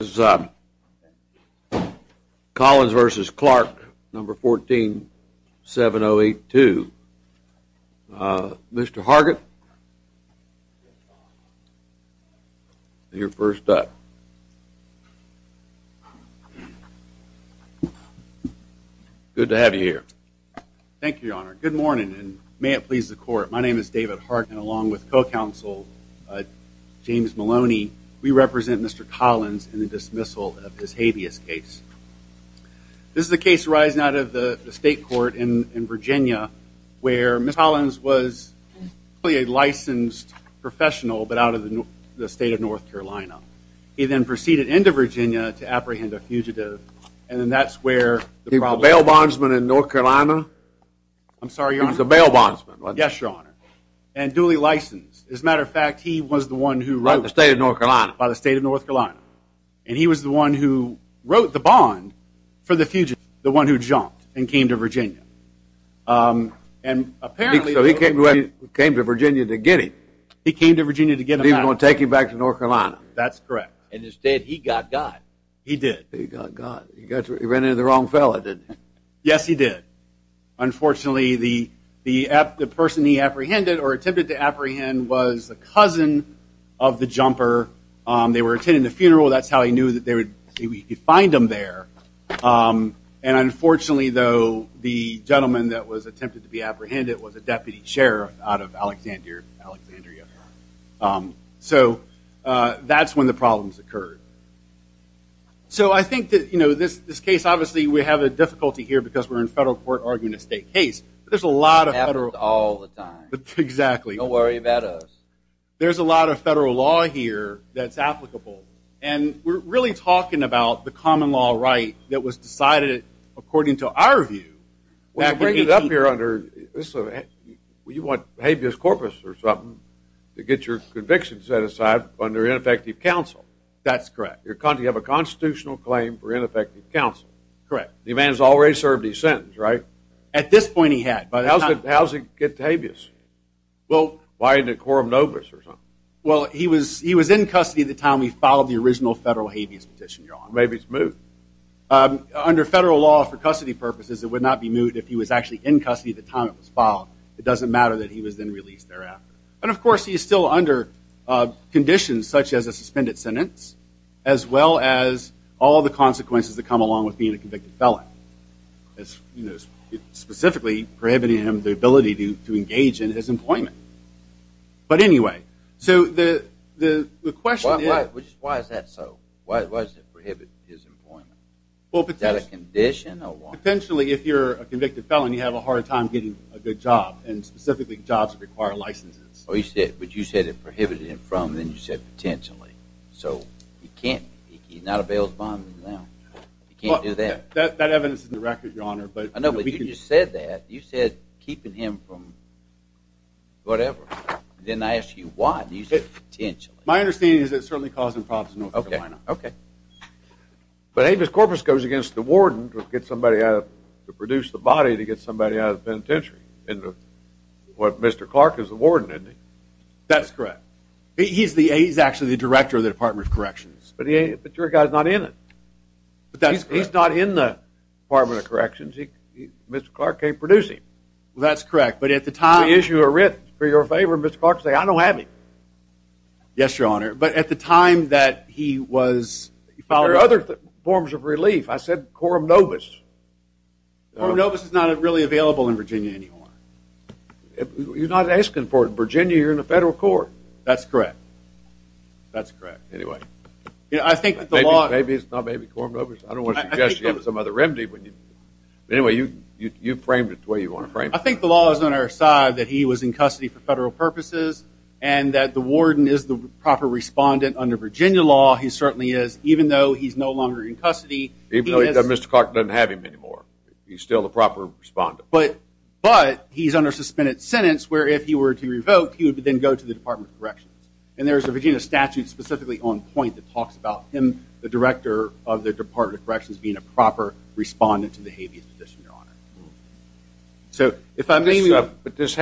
This is Collins v. Clarke, No. 14-7082. Mr. Hargett, you're first up. Good to have you here. Thank you, Your Honor. Good morning, and may it please the Court. My name is David Hargett, along with co-counsel James Maloney. We represent Mr. Collins in the dismissal of his habeas case. This is a case arising out of the state court in Virginia, where Mr. Collins was a licensed professional, but out of the state of North Carolina. He then proceeded into Virginia to apprehend a fugitive, and then that's where the problem… He was a bail bondsman in North Carolina? I'm sorry, Your Honor. He was a bail bondsman, wasn't he? Yes, Your Honor, and duly licensed. As a matter of fact, he was the one who wrote… By the state of North Carolina? By the state of North Carolina, and he was the one who wrote the bond for the fugitive, the one who jumped and came to Virginia. So he came to Virginia to get him? He came to Virginia to get him out. And he was going to take him back to North Carolina? That's correct. And instead, he got got. He did. He got got. He ran into the wrong fella, didn't he? Yes, he did. Unfortunately, the person he apprehended or attempted to apprehend was a cousin of the jumper. They were attending a funeral. That's how he knew that he could find him there. And unfortunately, though, the gentleman that was attempted to be apprehended was a deputy sheriff out of Alexandria. So that's when the problems occurred. So I think that, you know, this case, obviously, we have a difficulty here because we're in federal court arguing a state case. But there's a lot of federal… It happens all the time. Exactly. Don't worry about us. There's a lot of federal law here that's applicable. And we're really talking about the common law right that was decided, according to our view, that could be… You want habeas corpus or something to get your conviction set aside under ineffective counsel. That's correct. You have a constitutional claim for ineffective counsel. Correct. The man has already served his sentence, right? At this point, he had. How does it get to habeas? Well… Why, in a quorum nobis or something? Well, he was in custody at the time we filed the original federal habeas petition, Your Honor. Maybe it's moot. Under federal law, for custody purposes, it would not be moot if he was actually in custody at the time it was filed. It doesn't matter that he was then released thereafter. And, of course, he is still under conditions such as a suspended sentence as well as all the consequences that come along with being a convicted felon. Specifically, prohibiting him the ability to engage in his employment. But anyway, so the question is… Why is that so? Why does it prohibit his employment? Is that a condition or what? Potentially, if you're a convicted felon, you have a hard time getting a good job. And, specifically, jobs that require licenses. But you said it prohibited him from, and then you said potentially. So, he's not available now. He can't do that. That evidence is in the record, Your Honor. I know, but you just said that. You said keeping him from whatever. I didn't ask you why. You said potentially. My understanding is that it's certainly causing problems in North Carolina. Okay. But Amos Corpus goes against the warden to get somebody to produce the body to get somebody out of the penitentiary. And Mr. Clark is the warden, isn't he? That's correct. He's actually the director of the Department of Corrections. But your guy's not in it. He's not in the Department of Corrections. Mr. Clark can't produce him. That's correct, but at the time… We issue a writ for your favor and Mr. Clark says, I don't have him. Yes, Your Honor. But at the time that he was… There are other forms of relief. I said quorum nobis. Quorum nobis is not really available in Virginia anymore. You're not asking for it in Virginia. You're in the federal court. That's correct. That's correct. Anyway. Maybe it's not maybe quorum nobis. I don't want to suggest you have some other remedy. Anyway, you framed it the way you want to frame it. I think the law is on our side that he was in custody for federal purposes and that the warden is the proper respondent under Virginia law. He certainly is even though he's no longer in custody. Even though Mr. Clark doesn't have him anymore. He's still the proper respondent. But he's under suspended sentence where if he were to revoke, he would then go to the Department of Corrections. And there's a Virginia statute specifically on point that talks about him, the director of the Department of Corrections, being a proper respondent to the habeas petition, Your Honor. But this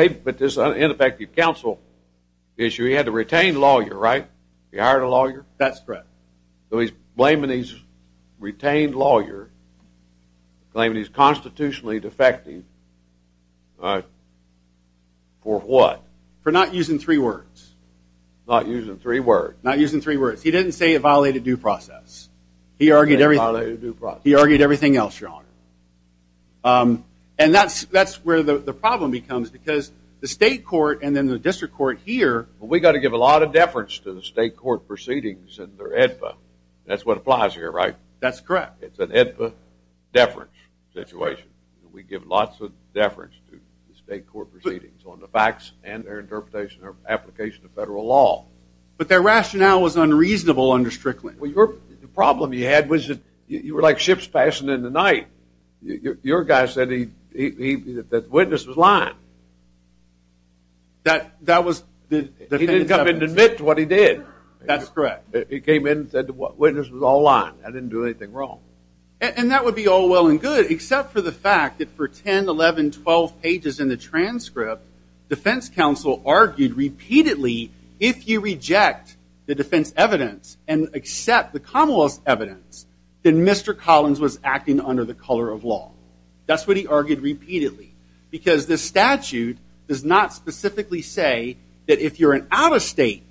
ineffective counsel issue, he had to retain lawyer, right? He hired a lawyer? That's correct. So he's blaming his retained lawyer, claiming he's constitutionally defecting for what? For not using three words. Not using three words. Not using three words. He didn't say it violated due process. He argued everything else, Your Honor. And that's where the problem becomes because the state court and then the district court here. We've got to give a lot of deference to the state court proceedings and their AEDPA. That's what applies here, right? That's correct. It's an AEDPA deference situation. We give lots of deference to the state court proceedings on the facts and their interpretation or application of federal law. But their rationale was unreasonable under Strickland. The problem you had was you were like ships passing in the night. Your guy said the witness was lying. He didn't come in to admit to what he did. That's correct. He came in and said the witness was all lying. I didn't do anything wrong. And that would be all well and good, except for the fact that for 10, 11, 12 pages in the transcript, defense counsel argued repeatedly if you reject the defense evidence and accept the commonwealth's evidence, then Mr. Collins was acting under the color of law. That's what he argued repeatedly because this statute does not specifically say that if you're an out-of-state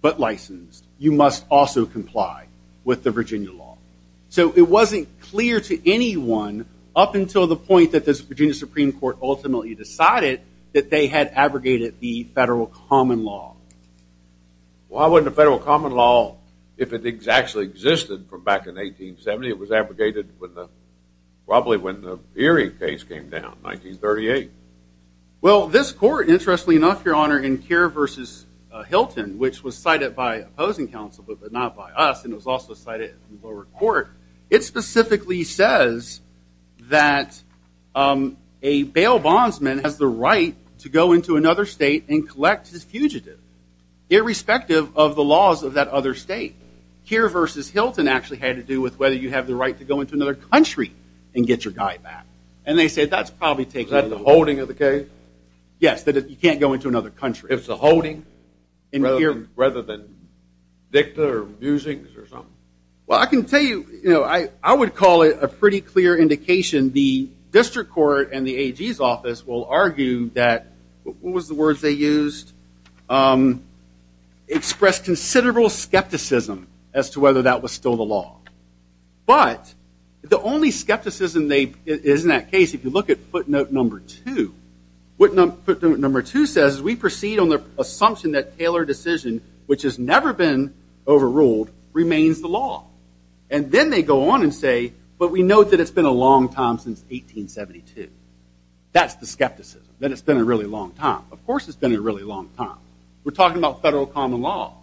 but licensed, you must also comply with the Virginia law. So it wasn't clear to anyone up until the point that the Virginia Supreme Court ultimately decided that they had abrogated the federal common law. Well, why wouldn't the federal common law, if it actually existed from back in 1870, it was abrogated probably when the Peary case came down in 1938. Well, this court, interestingly enough, Your Honor, in Keir v. Hilton, which was cited by opposing counsel but not by us, and it was also cited in the lower court, it specifically says that a bail bondsman has the right to go into another state and collect his fugitive, irrespective of the laws of that other state. Keir v. Hilton actually had to do with whether you have the right to go into another country and get your guy back. And they said that's probably taken into account. Is that the holding of the case? Yes, that you can't go into another country. If it's a holding rather than victor musings or something? Well, I can tell you, you know, I would call it a pretty clear indication. The district court and the AG's office will argue that, what was the words they used, express considerable skepticism as to whether that was still the law. But the only skepticism that is in that case, if you look at footnote number two, what footnote number two says is we proceed on the assumption that tailored decision, which has never been overruled, remains the law. And then they go on and say, but we know that it's been a long time since 1872. That's the skepticism, that it's been a really long time. Of course it's been a really long time. We're talking about federal common law.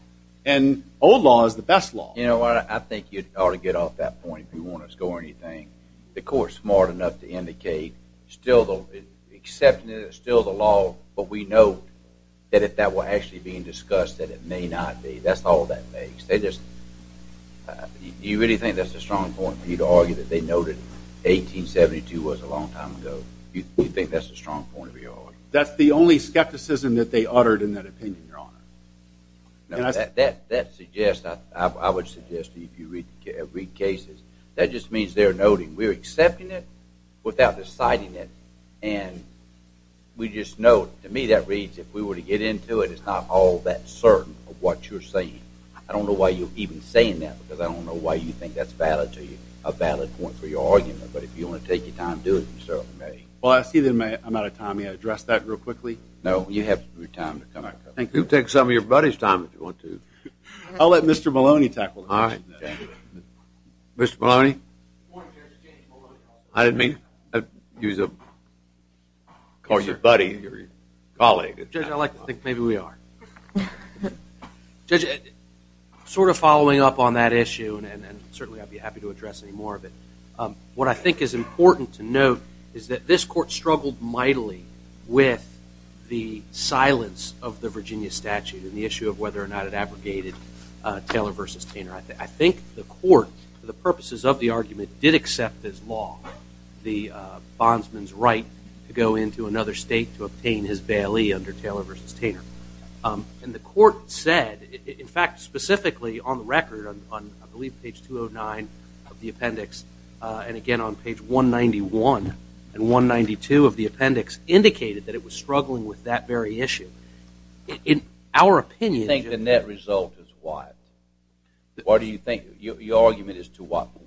And old law is the best law. You know, I think you ought to get off that point if you want to score anything. The court's smart enough to indicate still the law, but we know that if that were actually being discussed, that it may not be. That's all that makes. Do you really think that's a strong point, for you to argue that they noted 1872 was a long time ago? Do you think that's a strong point of your argument? That's the only skepticism that they uttered in that opinion, Your Honor. That suggests, I would suggest to you if you read cases, that just means they're noting. We're accepting it without deciding it. And we just know, to me that reads, if we were to get into it, it's not all that certain of what you're saying. I don't know why you're even saying that, because I don't know why you think that's valid to you, a valid point for your argument. But if you want to take your time, do it yourself. Well, I see that I'm out of time. May I address that real quickly? No, you have time to come back. You can take some of your buddy's time if you want to. I'll let Mr. Maloney tackle this. All right. Mr. Maloney? Good morning, Judge. James Maloney. I didn't mean to call you buddy, colleague. Judge, I like to think maybe we are. Judge, sort of following up on that issue, and certainly I'd be happy to address any more of it, what I think is important to note is that this Court struggled mightily with the silence of the Virginia statute and the issue of whether or not it abrogated Taylor v. Taylor. I think the Court, for the purposes of the argument, did accept as law the bondsman's right to go into another state to obtain his bailee under Taylor v. Taylor. And the Court said, in fact, specifically on the record on, I believe, page 209 of the appendix, and again on page 191 and 192 of the appendix, indicated that it was struggling with that very issue. In our opinion... You think the net result is what? What do you think? Your argument is to what point?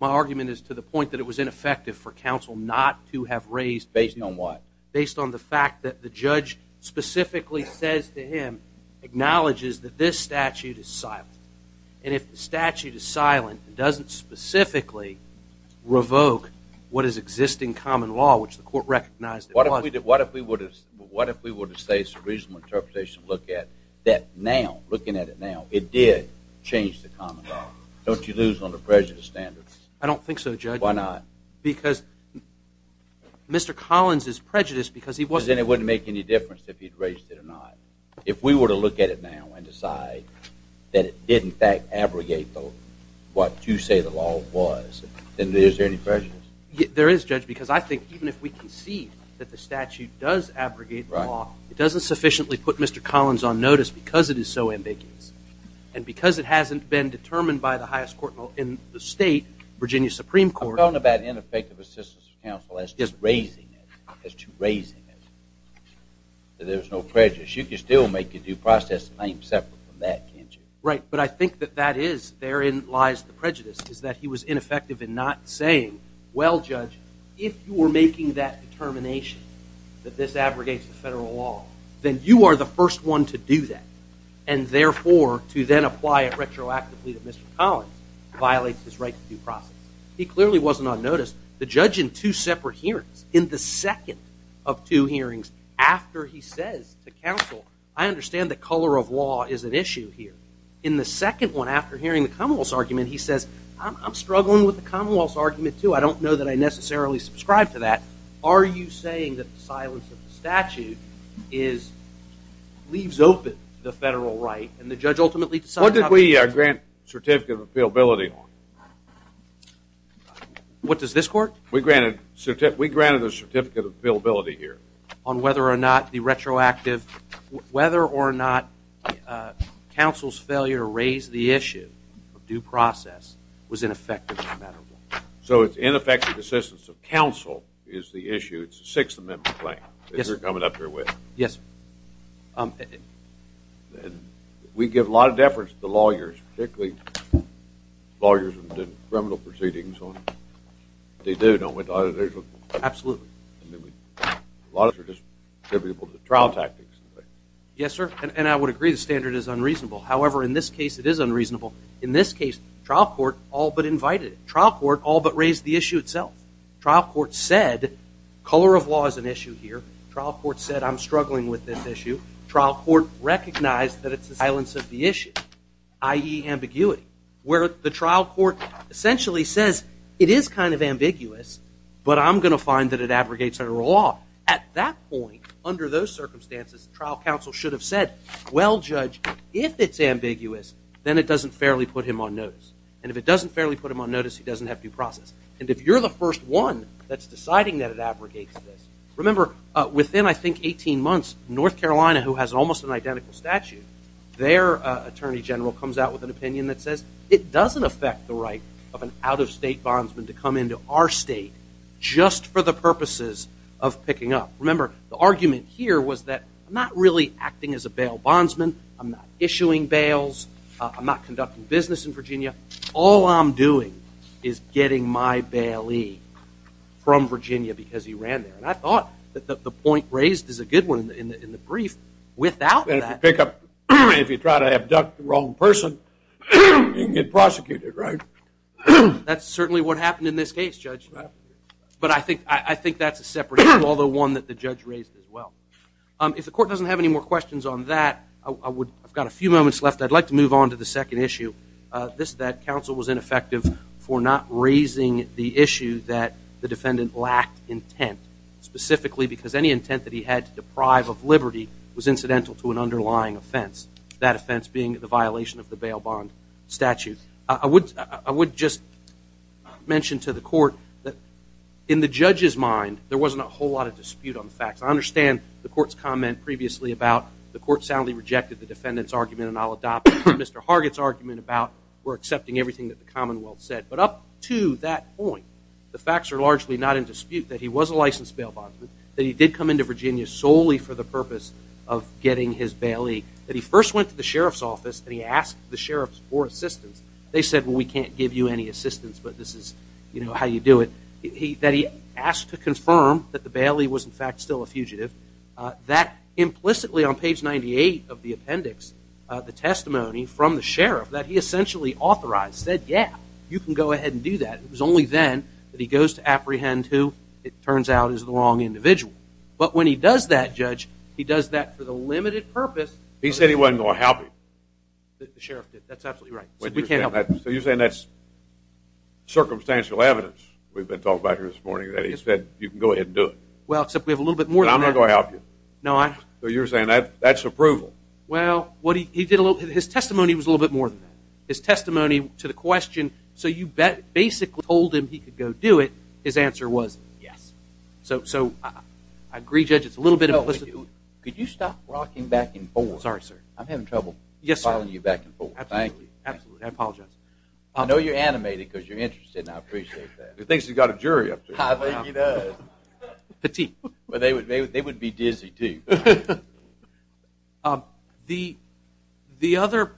My argument is to the point that it was ineffective for counsel not to have raised... Based on what? Based on the fact that the judge specifically says to him, acknowledges that this statute is silent. And if the statute is silent and doesn't specifically revoke what is existing common law, which the Court recognized it wasn't... What if we were to say, it's a reasonable interpretation to look at, that now, looking at it now, it did change the common law? Don't you lose on the prejudice standards? I don't think so, Judge. Why not? Because Mr. Collins is prejudiced because he wasn't... Then it wouldn't make any difference if he'd raised it or not. If we were to look at it now and decide that it did in fact abrogate what you say the law was, then is there any prejudice? There is, Judge, because I think even if we concede that the statute does abrogate the law, it doesn't sufficiently put Mr. Collins on notice because it is so ambiguous. And because it hasn't been determined by the highest court in the state, Virginia Supreme Court... You're talking about ineffective assistance of counsel as to raising it, as to raising it, that there's no prejudice. You can still make the due process separate from that, can't you? Right, but I think that that is, therein lies the prejudice, is that he was ineffective in not saying, well, Judge, if you were making that determination that this abrogates the federal law, then you are the first one to do that, and therefore to then apply it retroactively that Mr. Collins violates his right to due process. He clearly wasn't on notice. The judge in two separate hearings, in the second of two hearings, after he says to counsel, I understand that color of law is an issue here. In the second one, after hearing the commonwealth's argument, he says, I'm struggling with the commonwealth's argument, too. I don't know that I necessarily subscribe to that. Are you saying that the silence of the statute leaves open the federal right, and the judge ultimately decides... What did we grant certificate of appealability on? What does this court? We granted a certificate of appealability here. On whether or not the retroactive, whether or not counsel's failure to raise the issue of due process was ineffective. So it's ineffective assistance of counsel is the issue. It's a Sixth Amendment claim that you're coming up here with. Yes, sir. We give a lot of deference to the lawyers, particularly lawyers who have done criminal proceedings. They do, don't we? Absolutely. Yes, sir. And I would agree the standard is unreasonable. However, in this case, it is unreasonable. In this case, trial court all but invited it. Trial court all but raised the issue itself. Trial court said, color of law is an issue here. Trial court said, I'm struggling with this issue. Trial court recognized that it's the silence of the issue, i.e. ambiguity, where the trial court essentially says, it is kind of ambiguous, but I'm going to find that it abrogates our law. At that point, under those circumstances, trial counsel should have said, well, Judge, if it's ambiguous, then it doesn't fairly put him on notice. And if it doesn't fairly put him on notice, he doesn't have due process. And if you're the first one that's deciding that it abrogates this, remember, within, I think, 18 months, North Carolina, who has almost an identical statute, their attorney general comes out with an opinion that says, it doesn't affect the right of an out-of-state bondsman to come into our state just for the purposes of picking up. Remember, the argument here was that I'm not really acting as a bail bondsman. I'm not issuing bails. I'm not conducting business in Virginia. All I'm doing is getting my bailee from Virginia because he ran there. And I thought that the point raised is a good one in the brief. If you try to abduct the wrong person, you can get prosecuted, right? That's certainly what happened in this case, Judge. But I think that's a separate issue, although one that the judge raised as well. If the court doesn't have any more questions on that, I've got a few moments left. I'd like to move on to the second issue. This is that counsel was ineffective for not raising the issue that the defendant lacked intent, specifically because any intent that he had to deprive of liberty was incidental to an underlying offense, that offense being the violation of the bail bond statute. I would just mention to the court that in the judge's mind, there wasn't a whole lot of dispute on the facts. I understand the court's comment previously about the court soundly rejected the defendant's argument and I'll adopt Mr. Hargett's argument about we're accepting everything that the Commonwealth said. But up to that point, the facts are largely not in dispute that he was a licensed bail bondsman, that he did come into Virginia solely for the purpose of getting his bailee, that he first went to the sheriff's office and he asked the sheriff for assistance. They said, well, we can't give you any assistance, but this is how you do it. That he asked to confirm that the bailee was in fact still a fugitive, that implicitly on page 98 of the appendix, the testimony from the sheriff that he essentially authorized said, yeah, you can go ahead and do that. It was only then that he goes to apprehend who it turns out is the wrong individual. But when he does that, Judge, he does that for the limited purpose... He said he wasn't going to help him. The sheriff did. That's absolutely right. So you're saying that's circumstantial evidence we've been talking about here this morning that he said you can go ahead and do it. Well, except we have a little bit more than that. I'm not going to help you. So you're saying that's approval. Well, his testimony was a little bit more than that. His testimony to the question, so you basically told him he could go do it. His answer was yes. So I agree, Judge, it's a little bit implicit. Could you stop rocking back and forth? Sorry, sir. I'm having trouble following you back and forth. Thank you. Absolutely. I apologize. I know you're animated because you're interested, and I appreciate that. He thinks he's got a jury up there. I think he does. Petite. They would be dizzy, too. The other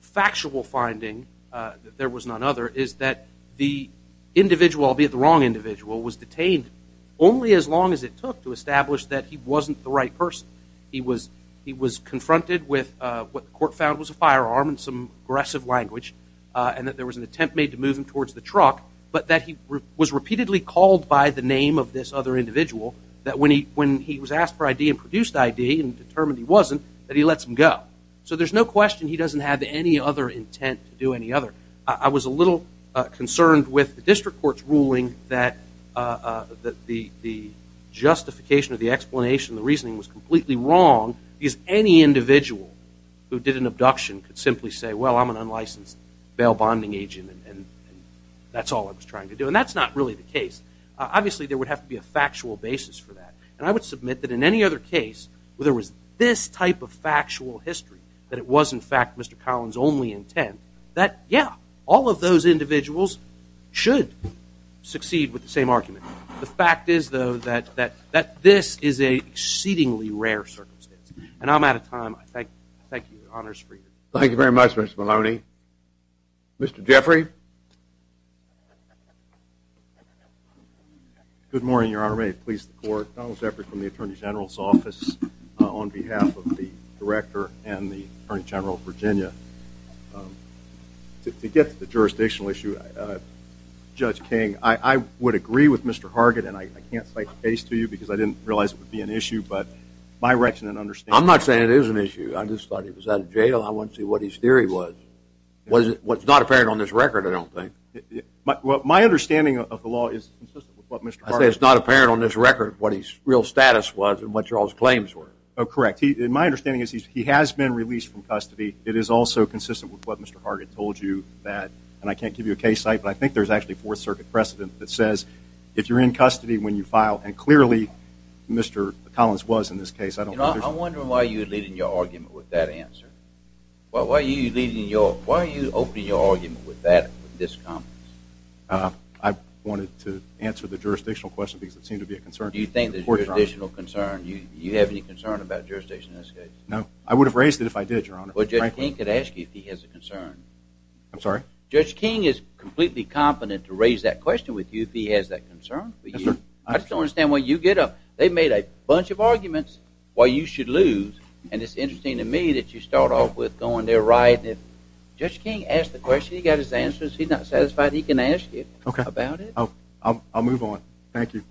factual finding, that there was none other, is that the individual, albeit the wrong individual, was detained only as long as it took to establish that he wasn't the right person. He was confronted with what the court found was a firearm and some aggressive language, and that there was an attempt made to move him towards the truck, but that he was repeatedly called by the name of this other individual that when he was asked for ID and produced ID and determined he wasn't, that he lets him go. So there's no question he doesn't have any other intent to do any other. I was a little concerned with the district court's ruling that the justification or the explanation or the reasoning was completely wrong because any individual who did an abduction could simply say, well, I'm an unlicensed bail bonding agent and that's all I was trying to do. And that's not really the case. Obviously, there would have to be a factual basis for that. And I would submit that in any other case where there was this type of factual history that it was, in fact, Mr. Collins' only intent, that, yeah, all of those individuals should succeed with the same argument. The fact is, though, that this is an exceedingly rare circumstance. And I'm out of time. Thank you. Honor's free. Thank you very much, Mr. Maloney. Mr. Jeffrey? Good morning, Your Honor. May it please the Court. Donald Jeffrey from the Attorney General's Office on behalf of the Director and the Attorney General of Virginia. To get to the jurisdictional issue, Judge King, I would agree with Mr. Hargett, and I can't cite the case to you because I didn't realize it would be an issue, but my reckless understanding... I'm not saying it is an issue. I just thought he was out of jail. I want to see what his theory was. What's not apparent on this record, I don't think. My understanding of the law is consistent with what Mr. Hargett... I say it's not apparent on this record what his real status was and what your all's claims were. Oh, correct. My understanding is he has been released from custody. It is also consistent with what Mr. Hargett told you that... And I can't give you a case site, but I think there's actually a Fourth Circuit precedent that says if you're in custody when you file... And clearly, Mr. Collins was in this case. I don't think there's... I'm wondering why you're leading your argument with that answer. Why are you leading your... Why are you opening your argument with that, with this comment? I wanted to answer the jurisdictional question because it seemed to be a concern. Do you think there's a jurisdictional concern? Do you have any concern about jurisdiction in this case? No. I would have raised it if I did, Your Honor, frankly. Well, Judge King could ask you if he has a concern. I'm sorry? Judge King is completely confident to raise that question with you if he has that concern for you. Yes, sir. I just don't understand why you get up... They've made a bunch of arguments why you should lose, and it's interesting to me that you start off with going, they're right, and if... Judge King asked the question, he got his answers, he's not satisfied, he can ask you about it. Okay. I'll move on. Thank you.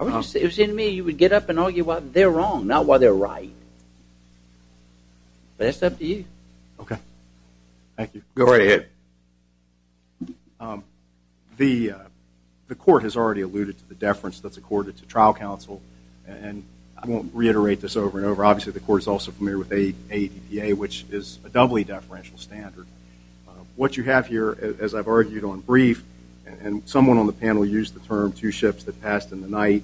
It was interesting to me, you would get up and argue why they're wrong, not why they're right. But it's up to you. Okay. Thank you. Go right ahead. The court has already alluded to the deference that's accorded to trial counsel, and I won't reiterate this over and over. Obviously, the court is also familiar with ADPA, which is a doubly deferential standard. What you have here, as I've argued on brief, and someone on the panel used the term two ships that passed in the night,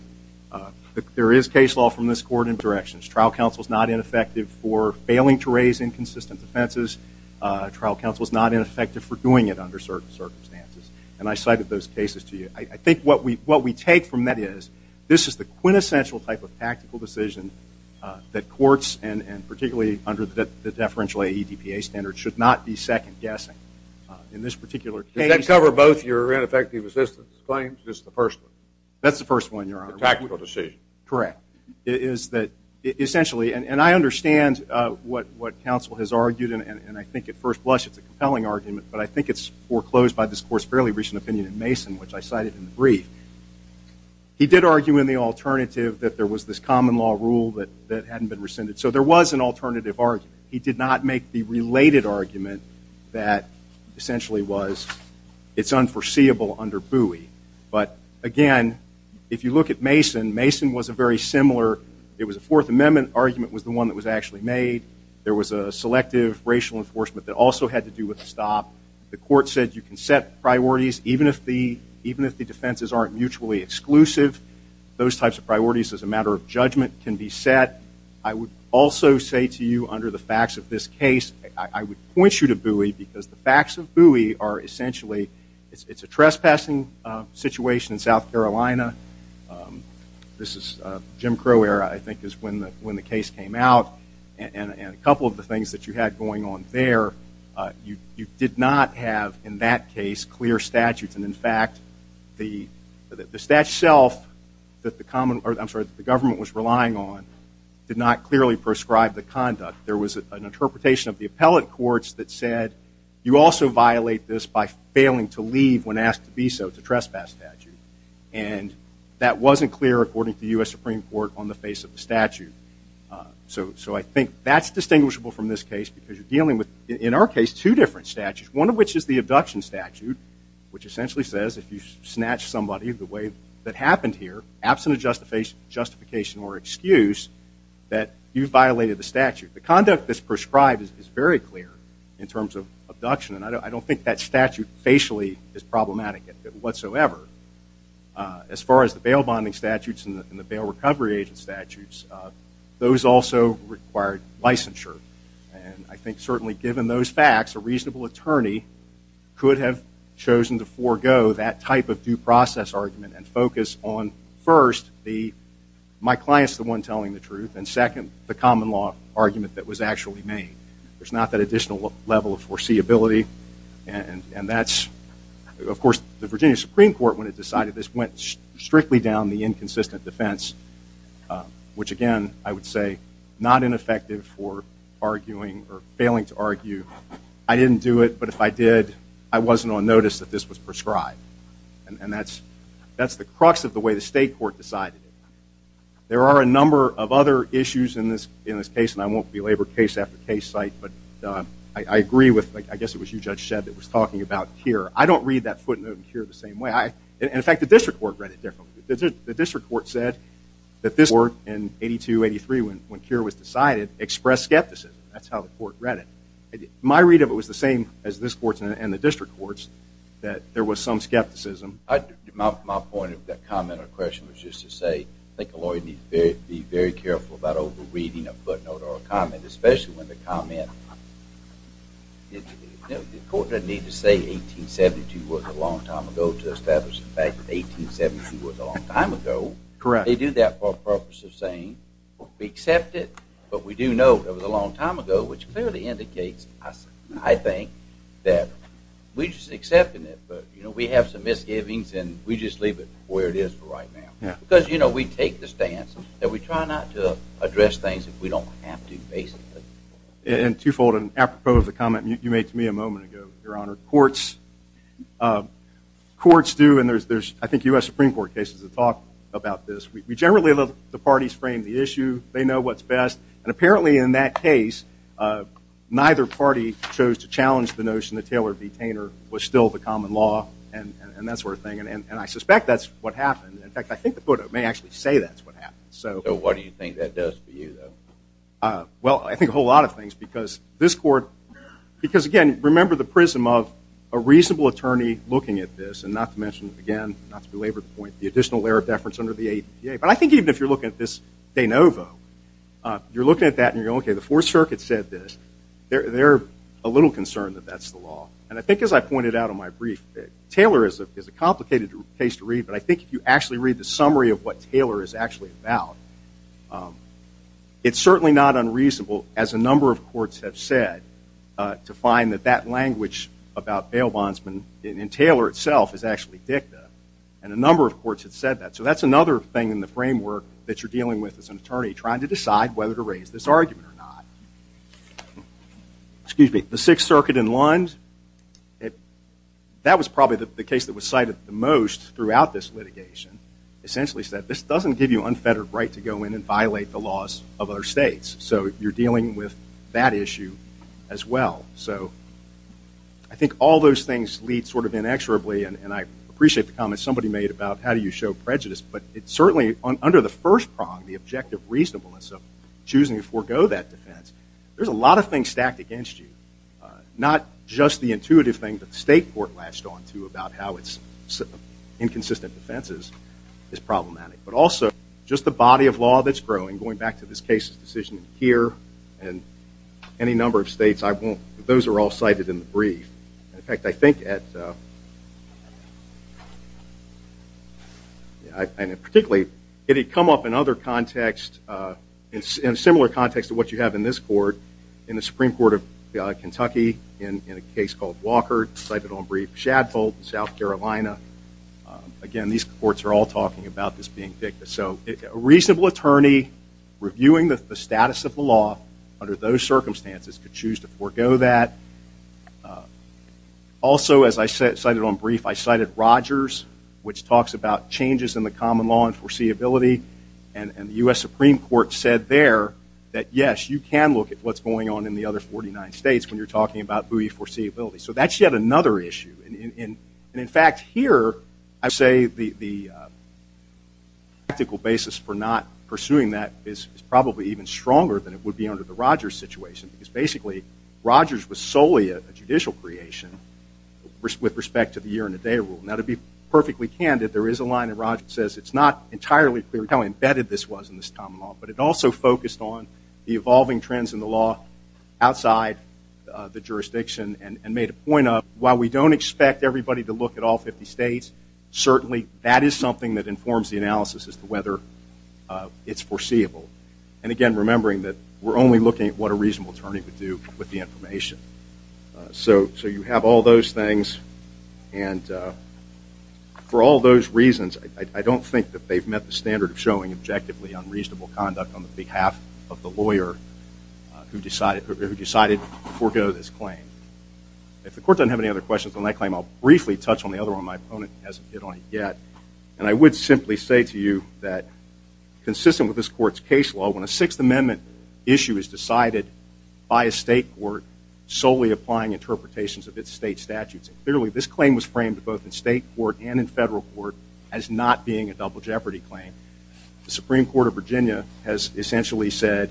there is case law from this court in both directions. Trial counsel is not ineffective for failing to raise inconsistent defenses. Trial counsel is not ineffective for doing it under certain circumstances. And I cited those cases to you. I think what we take from that is, this is the quintessential type of tactical decision that courts, and particularly under the deferential ADPA standard, should not be second-guessing. In this particular case... Did that cover both your ineffective assistance claims, just the first one? That's the first one, Your Honor. The tactical decision. Correct. It is that, essentially, and I understand what counsel has argued, and I think at first blush it's a compelling argument, but I think it's foreclosed by this court's fairly recent opinion in Mason, which I cited in the brief. He did argue in the alternative that there was this common law rule that hadn't been rescinded. So there was an alternative argument. He did not make the related argument that essentially was, it's unforeseeable under Bowie. But, again, if you look at Mason, Mason was a very similar, it was a Fourth Amendment argument was the one that was actually made. There was a selective racial enforcement that also had to do with the stop. The court said you can set priorities even if the defenses aren't mutually exclusive. Those types of priorities, as a matter of judgment, can be set. I would also say to you, under the facts of this case, I would point you to Bowie because the facts of Bowie are essentially, it's a trespassing situation in South Carolina. This is Jim Crow era, I think, is when the case came out. And a couple of the things that you had going on there, you did not have in that case clear statutes. And, in fact, the statute itself that the government was relying on did not clearly prescribe the conduct. There was an interpretation of the appellate courts that said, you also violate this by failing to leave when asked to be so, it's a trespass statute. And that wasn't clear, according to the U.S. Supreme Court, on the face of the statute. So I think that's distinguishable from this case because you're dealing with, in our case, two different statutes, one of which is the abduction statute, which essentially says if you snatch somebody the way that happened here, absent a justification or excuse, that you've violated the statute. The conduct that's prescribed is very clear in terms of abduction, and I don't think that statute facially is problematic whatsoever. As far as the bail bonding statutes and the bail recovery agent statutes, those also required licensure. And I think certainly given those facts, a reasonable attorney could have chosen to forego that type of due process argument and focus on, first, my client's the one telling the truth, and second, the common law argument that was actually made. There's not that additional level of foreseeability. And that's, of course, the Virginia Supreme Court, when it decided this, went strictly down the inconsistent defense, which, again, I would say, not ineffective for arguing or failing to argue. I didn't do it, but if I did, I wasn't on notice that this was prescribed. And that's the crux of the way the state court decided it. There are a number of other issues in this case, and I won't belabor case after case site, but I agree with, I guess it was you, Judge Shedd, that was talking about Keir. I don't read that footnote in Keir the same way. In fact, the district court read it differently. The district court said that this court in 82-83, when Keir was decided, expressed skepticism. That's how the court read it. My read of it was the same as this court's and the district court's, that there was some skepticism. My point of that comment or question was just to say, I think a lawyer needs to be very careful about over-reading a footnote or a comment, especially when the comment, the court doesn't need to say 1872 was a long time ago to establish the fact that 1872 was a long time ago. They do that for a purpose of saying, we accept it, but we do know it was a long time ago, which clearly indicates, I think, that we're just accepting it. We have some misgivings, and we just leave it where it is for right now. Because we take the stance that we try not to address things if we don't have to, basically. Two-fold. Apropos of the comment you made to me a moment ago, Your Honor, courts do, and there's, I think, U.S. Supreme Court cases that talk about this. We generally let the parties frame the issue. They know what's best. Apparently, in that case, neither party chose to challenge the notion that Taylor v. And I suspect that's what happened. In fact, I think the court may actually say that's what happened. So what do you think that does for you, though? Well, I think a whole lot of things, because this court, because, again, remember the prism of a reasonable attorney looking at this, and not to mention, again, not to belabor the point, the additional layer of deference under the ADA. But I think even if you're looking at this de novo, you're looking at that, and you're going, okay, the Fourth Circuit said this. They're a little concerned that that's the law. And I think, as I pointed out in my brief, Taylor is a complicated case to read, but I think if you actually read the summary of what Taylor is actually about, it's certainly not unreasonable, as a number of courts have said, to find that that language about bail bondsmen in Taylor itself is actually dicta, and a number of courts have said that. So that's another thing in the framework that you're dealing with as an attorney, trying to decide whether to raise this argument or not. Excuse me. The Sixth Circuit in Lund, that was probably the case that was cited the most throughout this litigation, essentially said, this doesn't give you unfettered right to go in and violate the laws of other states, so you're dealing with that issue as well. So I think all those things lead sort of inexorably, and I appreciate the comment somebody made about how do you show prejudice, but it certainly, under the first prong, the objective reasonableness of choosing to forego that defense, there's a lot of things stacked against you. Not just the intuitive thing that the state court latched on to about how its inconsistent defenses is problematic, but also just the body of law that's growing, going back to this case's decision here and any number of states. Those are all cited in the brief. In fact, I think at, particularly, it had come up in a similar context to what you have in this court, in the Supreme Court of Kentucky, in a case called Walker, cited on brief, Shadfold, South Carolina. Again, these courts are all talking about this being victious. So a reasonable attorney reviewing the status of the law under those circumstances could choose to forego that. Also, as I cited on brief, I cited Rogers, which talks about changes in the common law and foreseeability. And the U.S. Supreme Court said there that, yes, you can look at what's going on in the other 49 states when you're talking about buoy foreseeability. So that's yet another issue. And, in fact, here I would say the tactical basis for not pursuing that is probably even stronger than it would be under the Rogers situation, because basically Rogers was solely a judicial creation with respect to the Now, to be perfectly candid, there is a line in Rogers that says it's not entirely clear how embedded this was in this common law, but it also focused on the evolving trends in the law outside the jurisdiction and made a point of, while we don't expect everybody to look at all 50 states, certainly that is something that informs the analysis as to whether it's foreseeable. And, again, remembering that we're only looking at what a reasonable attorney would do with the information. So you have all those things. And for all those reasons, I don't think that they've met the standard of showing objectively unreasonable conduct on behalf of the lawyer who decided to forego this claim. If the court doesn't have any other questions on that claim, I'll briefly touch on the other one. My opponent hasn't hit on it yet. And I would simply say to you that, consistent with this court's case law, when a Sixth Amendment issue is decided by a state court solely applying interpretations of its state statutes, clearly this claim was framed both in state court and in federal court as not being a double jeopardy claim. The Supreme Court of Virginia has essentially said,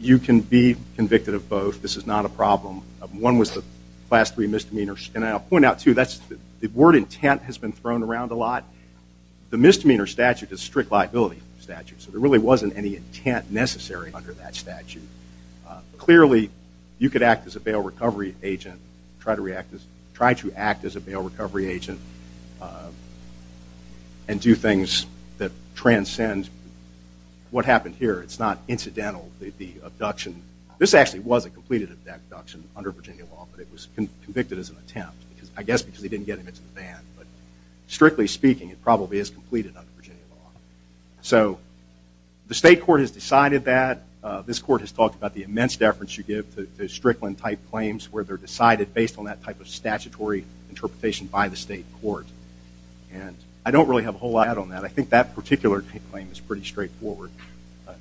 you can be convicted of both. This is not a problem. One was the class three misdemeanor. And I'll point out, too, the word intent has been thrown around a lot. The misdemeanor statute is a strict liability statute. So there really wasn't any intent necessary under that statute. Clearly, you could act as a bail recovery agent, try to act as a bail recovery agent, and do things that transcend what happened here. It's not incidental. The abduction, this actually was a completed abduction under Virginia law, but it was convicted as an attempt, I guess because they didn't get him into the van. But strictly speaking, it probably is completed under Virginia law. So the state court has decided that. This court has talked about the immense deference you give to Strickland-type claims where they're decided based on that type of statutory interpretation by the state court. And I don't really have a whole lot to add on that. I think that particular claim is pretty straightforward.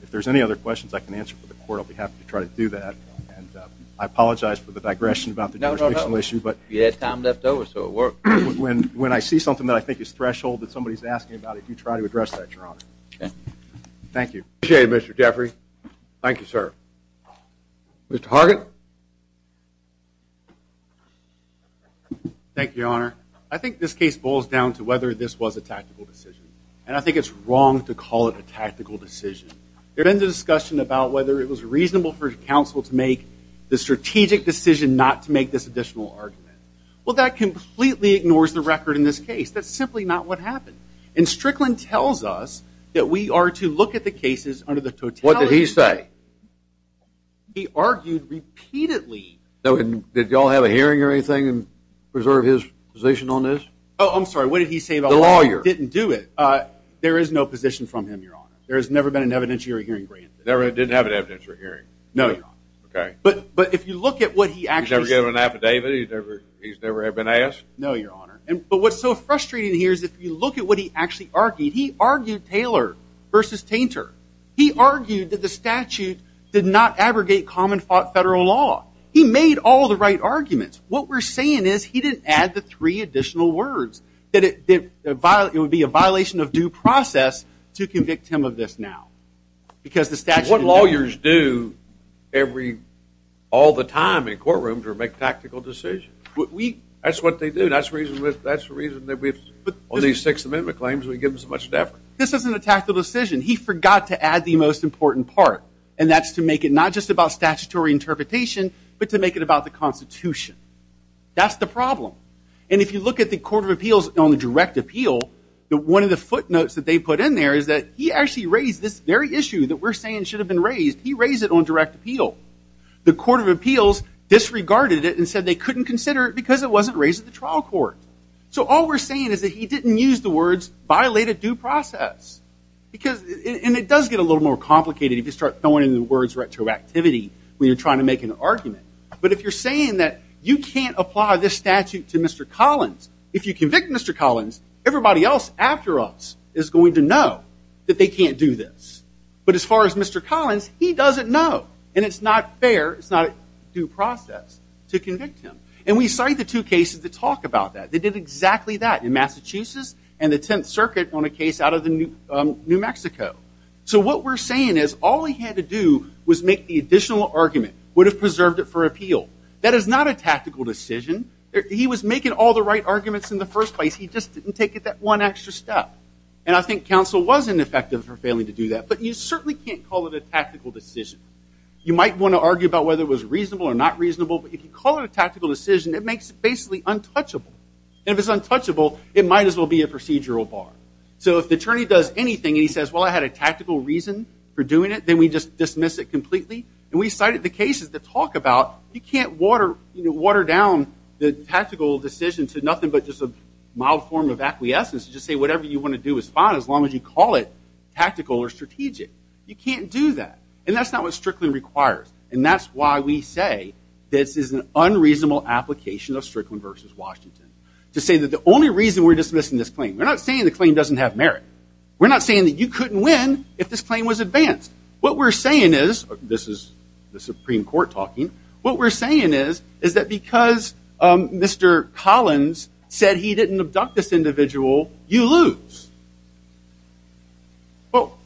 If there's any other questions I can answer for the court, I'll be happy to try to do that. And I apologize for the digression about the jurisdictional issue. No, no, no. You had time left over, so it worked. When I see something that I think is threshold that somebody's asking about, I'll be happy to try to address that, Your Honor. Okay. Thank you. Appreciate it, Mr. Jeffrey. Thank you, sir. Mr. Hargett. Thank you, Your Honor. I think this case boils down to whether this was a tactical decision. And I think it's wrong to call it a tactical decision. There's been discussion about whether it was reasonable for counsel to make the strategic decision not to make this additional argument. Well, that completely ignores the record in this case. That's simply not what happened. And Strickland tells us that we are to look at the cases under the totality of What did he say? He argued repeatedly. Did y'all have a hearing or anything and preserve his position on this? Oh, I'm sorry. What did he say about it? The lawyer. Didn't do it. There is no position from him, Your Honor. There has never been an evidentiary hearing granted. Never did have an evidentiary hearing. No, Your Honor. Okay. But if you look at what he actually said. He's never given an affidavit? He's never been asked? No, Your Honor. But what's so frustrating here is if you look at what he actually argued. He argued Taylor versus Tainter. He argued that the statute did not abrogate common federal law. He made all the right arguments. What we're saying is he didn't add the three additional words. It would be a violation of due process to convict him of this now because the statute What lawyers do all the time in courtrooms or make tactical decisions? That's what they do. That's the reason that we have all these Sixth Amendment claims. We give them so much effort. This isn't a tactical decision. He forgot to add the most important part, and that's to make it not just about statutory interpretation but to make it about the Constitution. That's the problem. And if you look at the Court of Appeals on the direct appeal, one of the footnotes that they put in there is that he actually raised this very issue that we're saying should have been raised. He raised it on direct appeal. The Court of Appeals disregarded it and said they couldn't consider it because it wasn't raised at the trial court. So all we're saying is that he didn't use the words violate a due process. And it does get a little more complicated if you start throwing in the words retroactivity when you're trying to make an argument. But if you're saying that you can't apply this statute to Mr. Collins, if you convict Mr. Collins, everybody else after us is going to know that they can't do this. But as far as Mr. Collins, he doesn't know, and it's not fair, it's not a due process to convict him. And we cite the two cases that talk about that. They did exactly that in Massachusetts and the Tenth Circuit on a case out of New Mexico. So what we're saying is all he had to do was make the additional argument, would have preserved it for appeal. That is not a tactical decision. He was making all the right arguments in the first place, he just didn't take that one extra step. And I think counsel was ineffective for failing to do that. But you certainly can't call it a tactical decision. You might want to argue about whether it was reasonable or not reasonable, but if you call it a tactical decision, it makes it basically untouchable. And if it's untouchable, it might as well be a procedural bar. So if the attorney does anything and he says, well, I had a tactical reason for doing it, then we just dismiss it completely. And we cited the cases that talk about you can't water down the tactical decision to nothing but just a mild form of acquiescence, just say whatever you want to do is fine as long as you call it tactical or strategic. You can't do that. And that's not what Strickland requires. And that's why we say this is an unreasonable application of Strickland versus Washington. To say that the only reason we're dismissing this claim, we're not saying the claim doesn't have merit. We're not saying that you couldn't win if this claim was advanced. What we're saying is, this is the Supreme Court talking, what we're saying is that because Mr. Collins said he didn't abduct this individual, you lose. Well,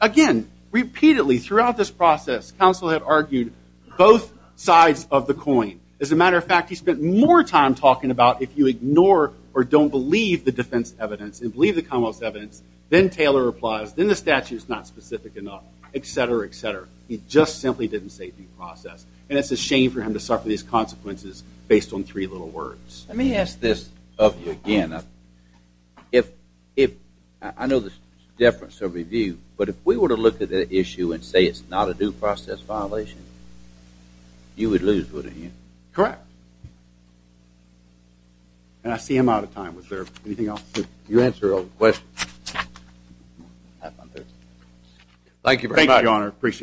again, repeatedly throughout this process, counsel had argued both sides of the coin. As a matter of fact, he spent more time talking about if you ignore or don't believe the defense evidence and believe the commonwealth's evidence, then Taylor applies, then the statute's not specific enough, et cetera, et cetera. He just simply didn't say due process. And it's a shame for him to suffer these consequences based on three little words. Let me ask this of you again. I know there's a difference of review, but if we were to look at the issue and say it's not a due process violation, you would lose, wouldn't you? Correct. And I see I'm out of time. Was there anything else? You answer all the questions. Thank you very much. Thank you, Your Honor. Appreciate it.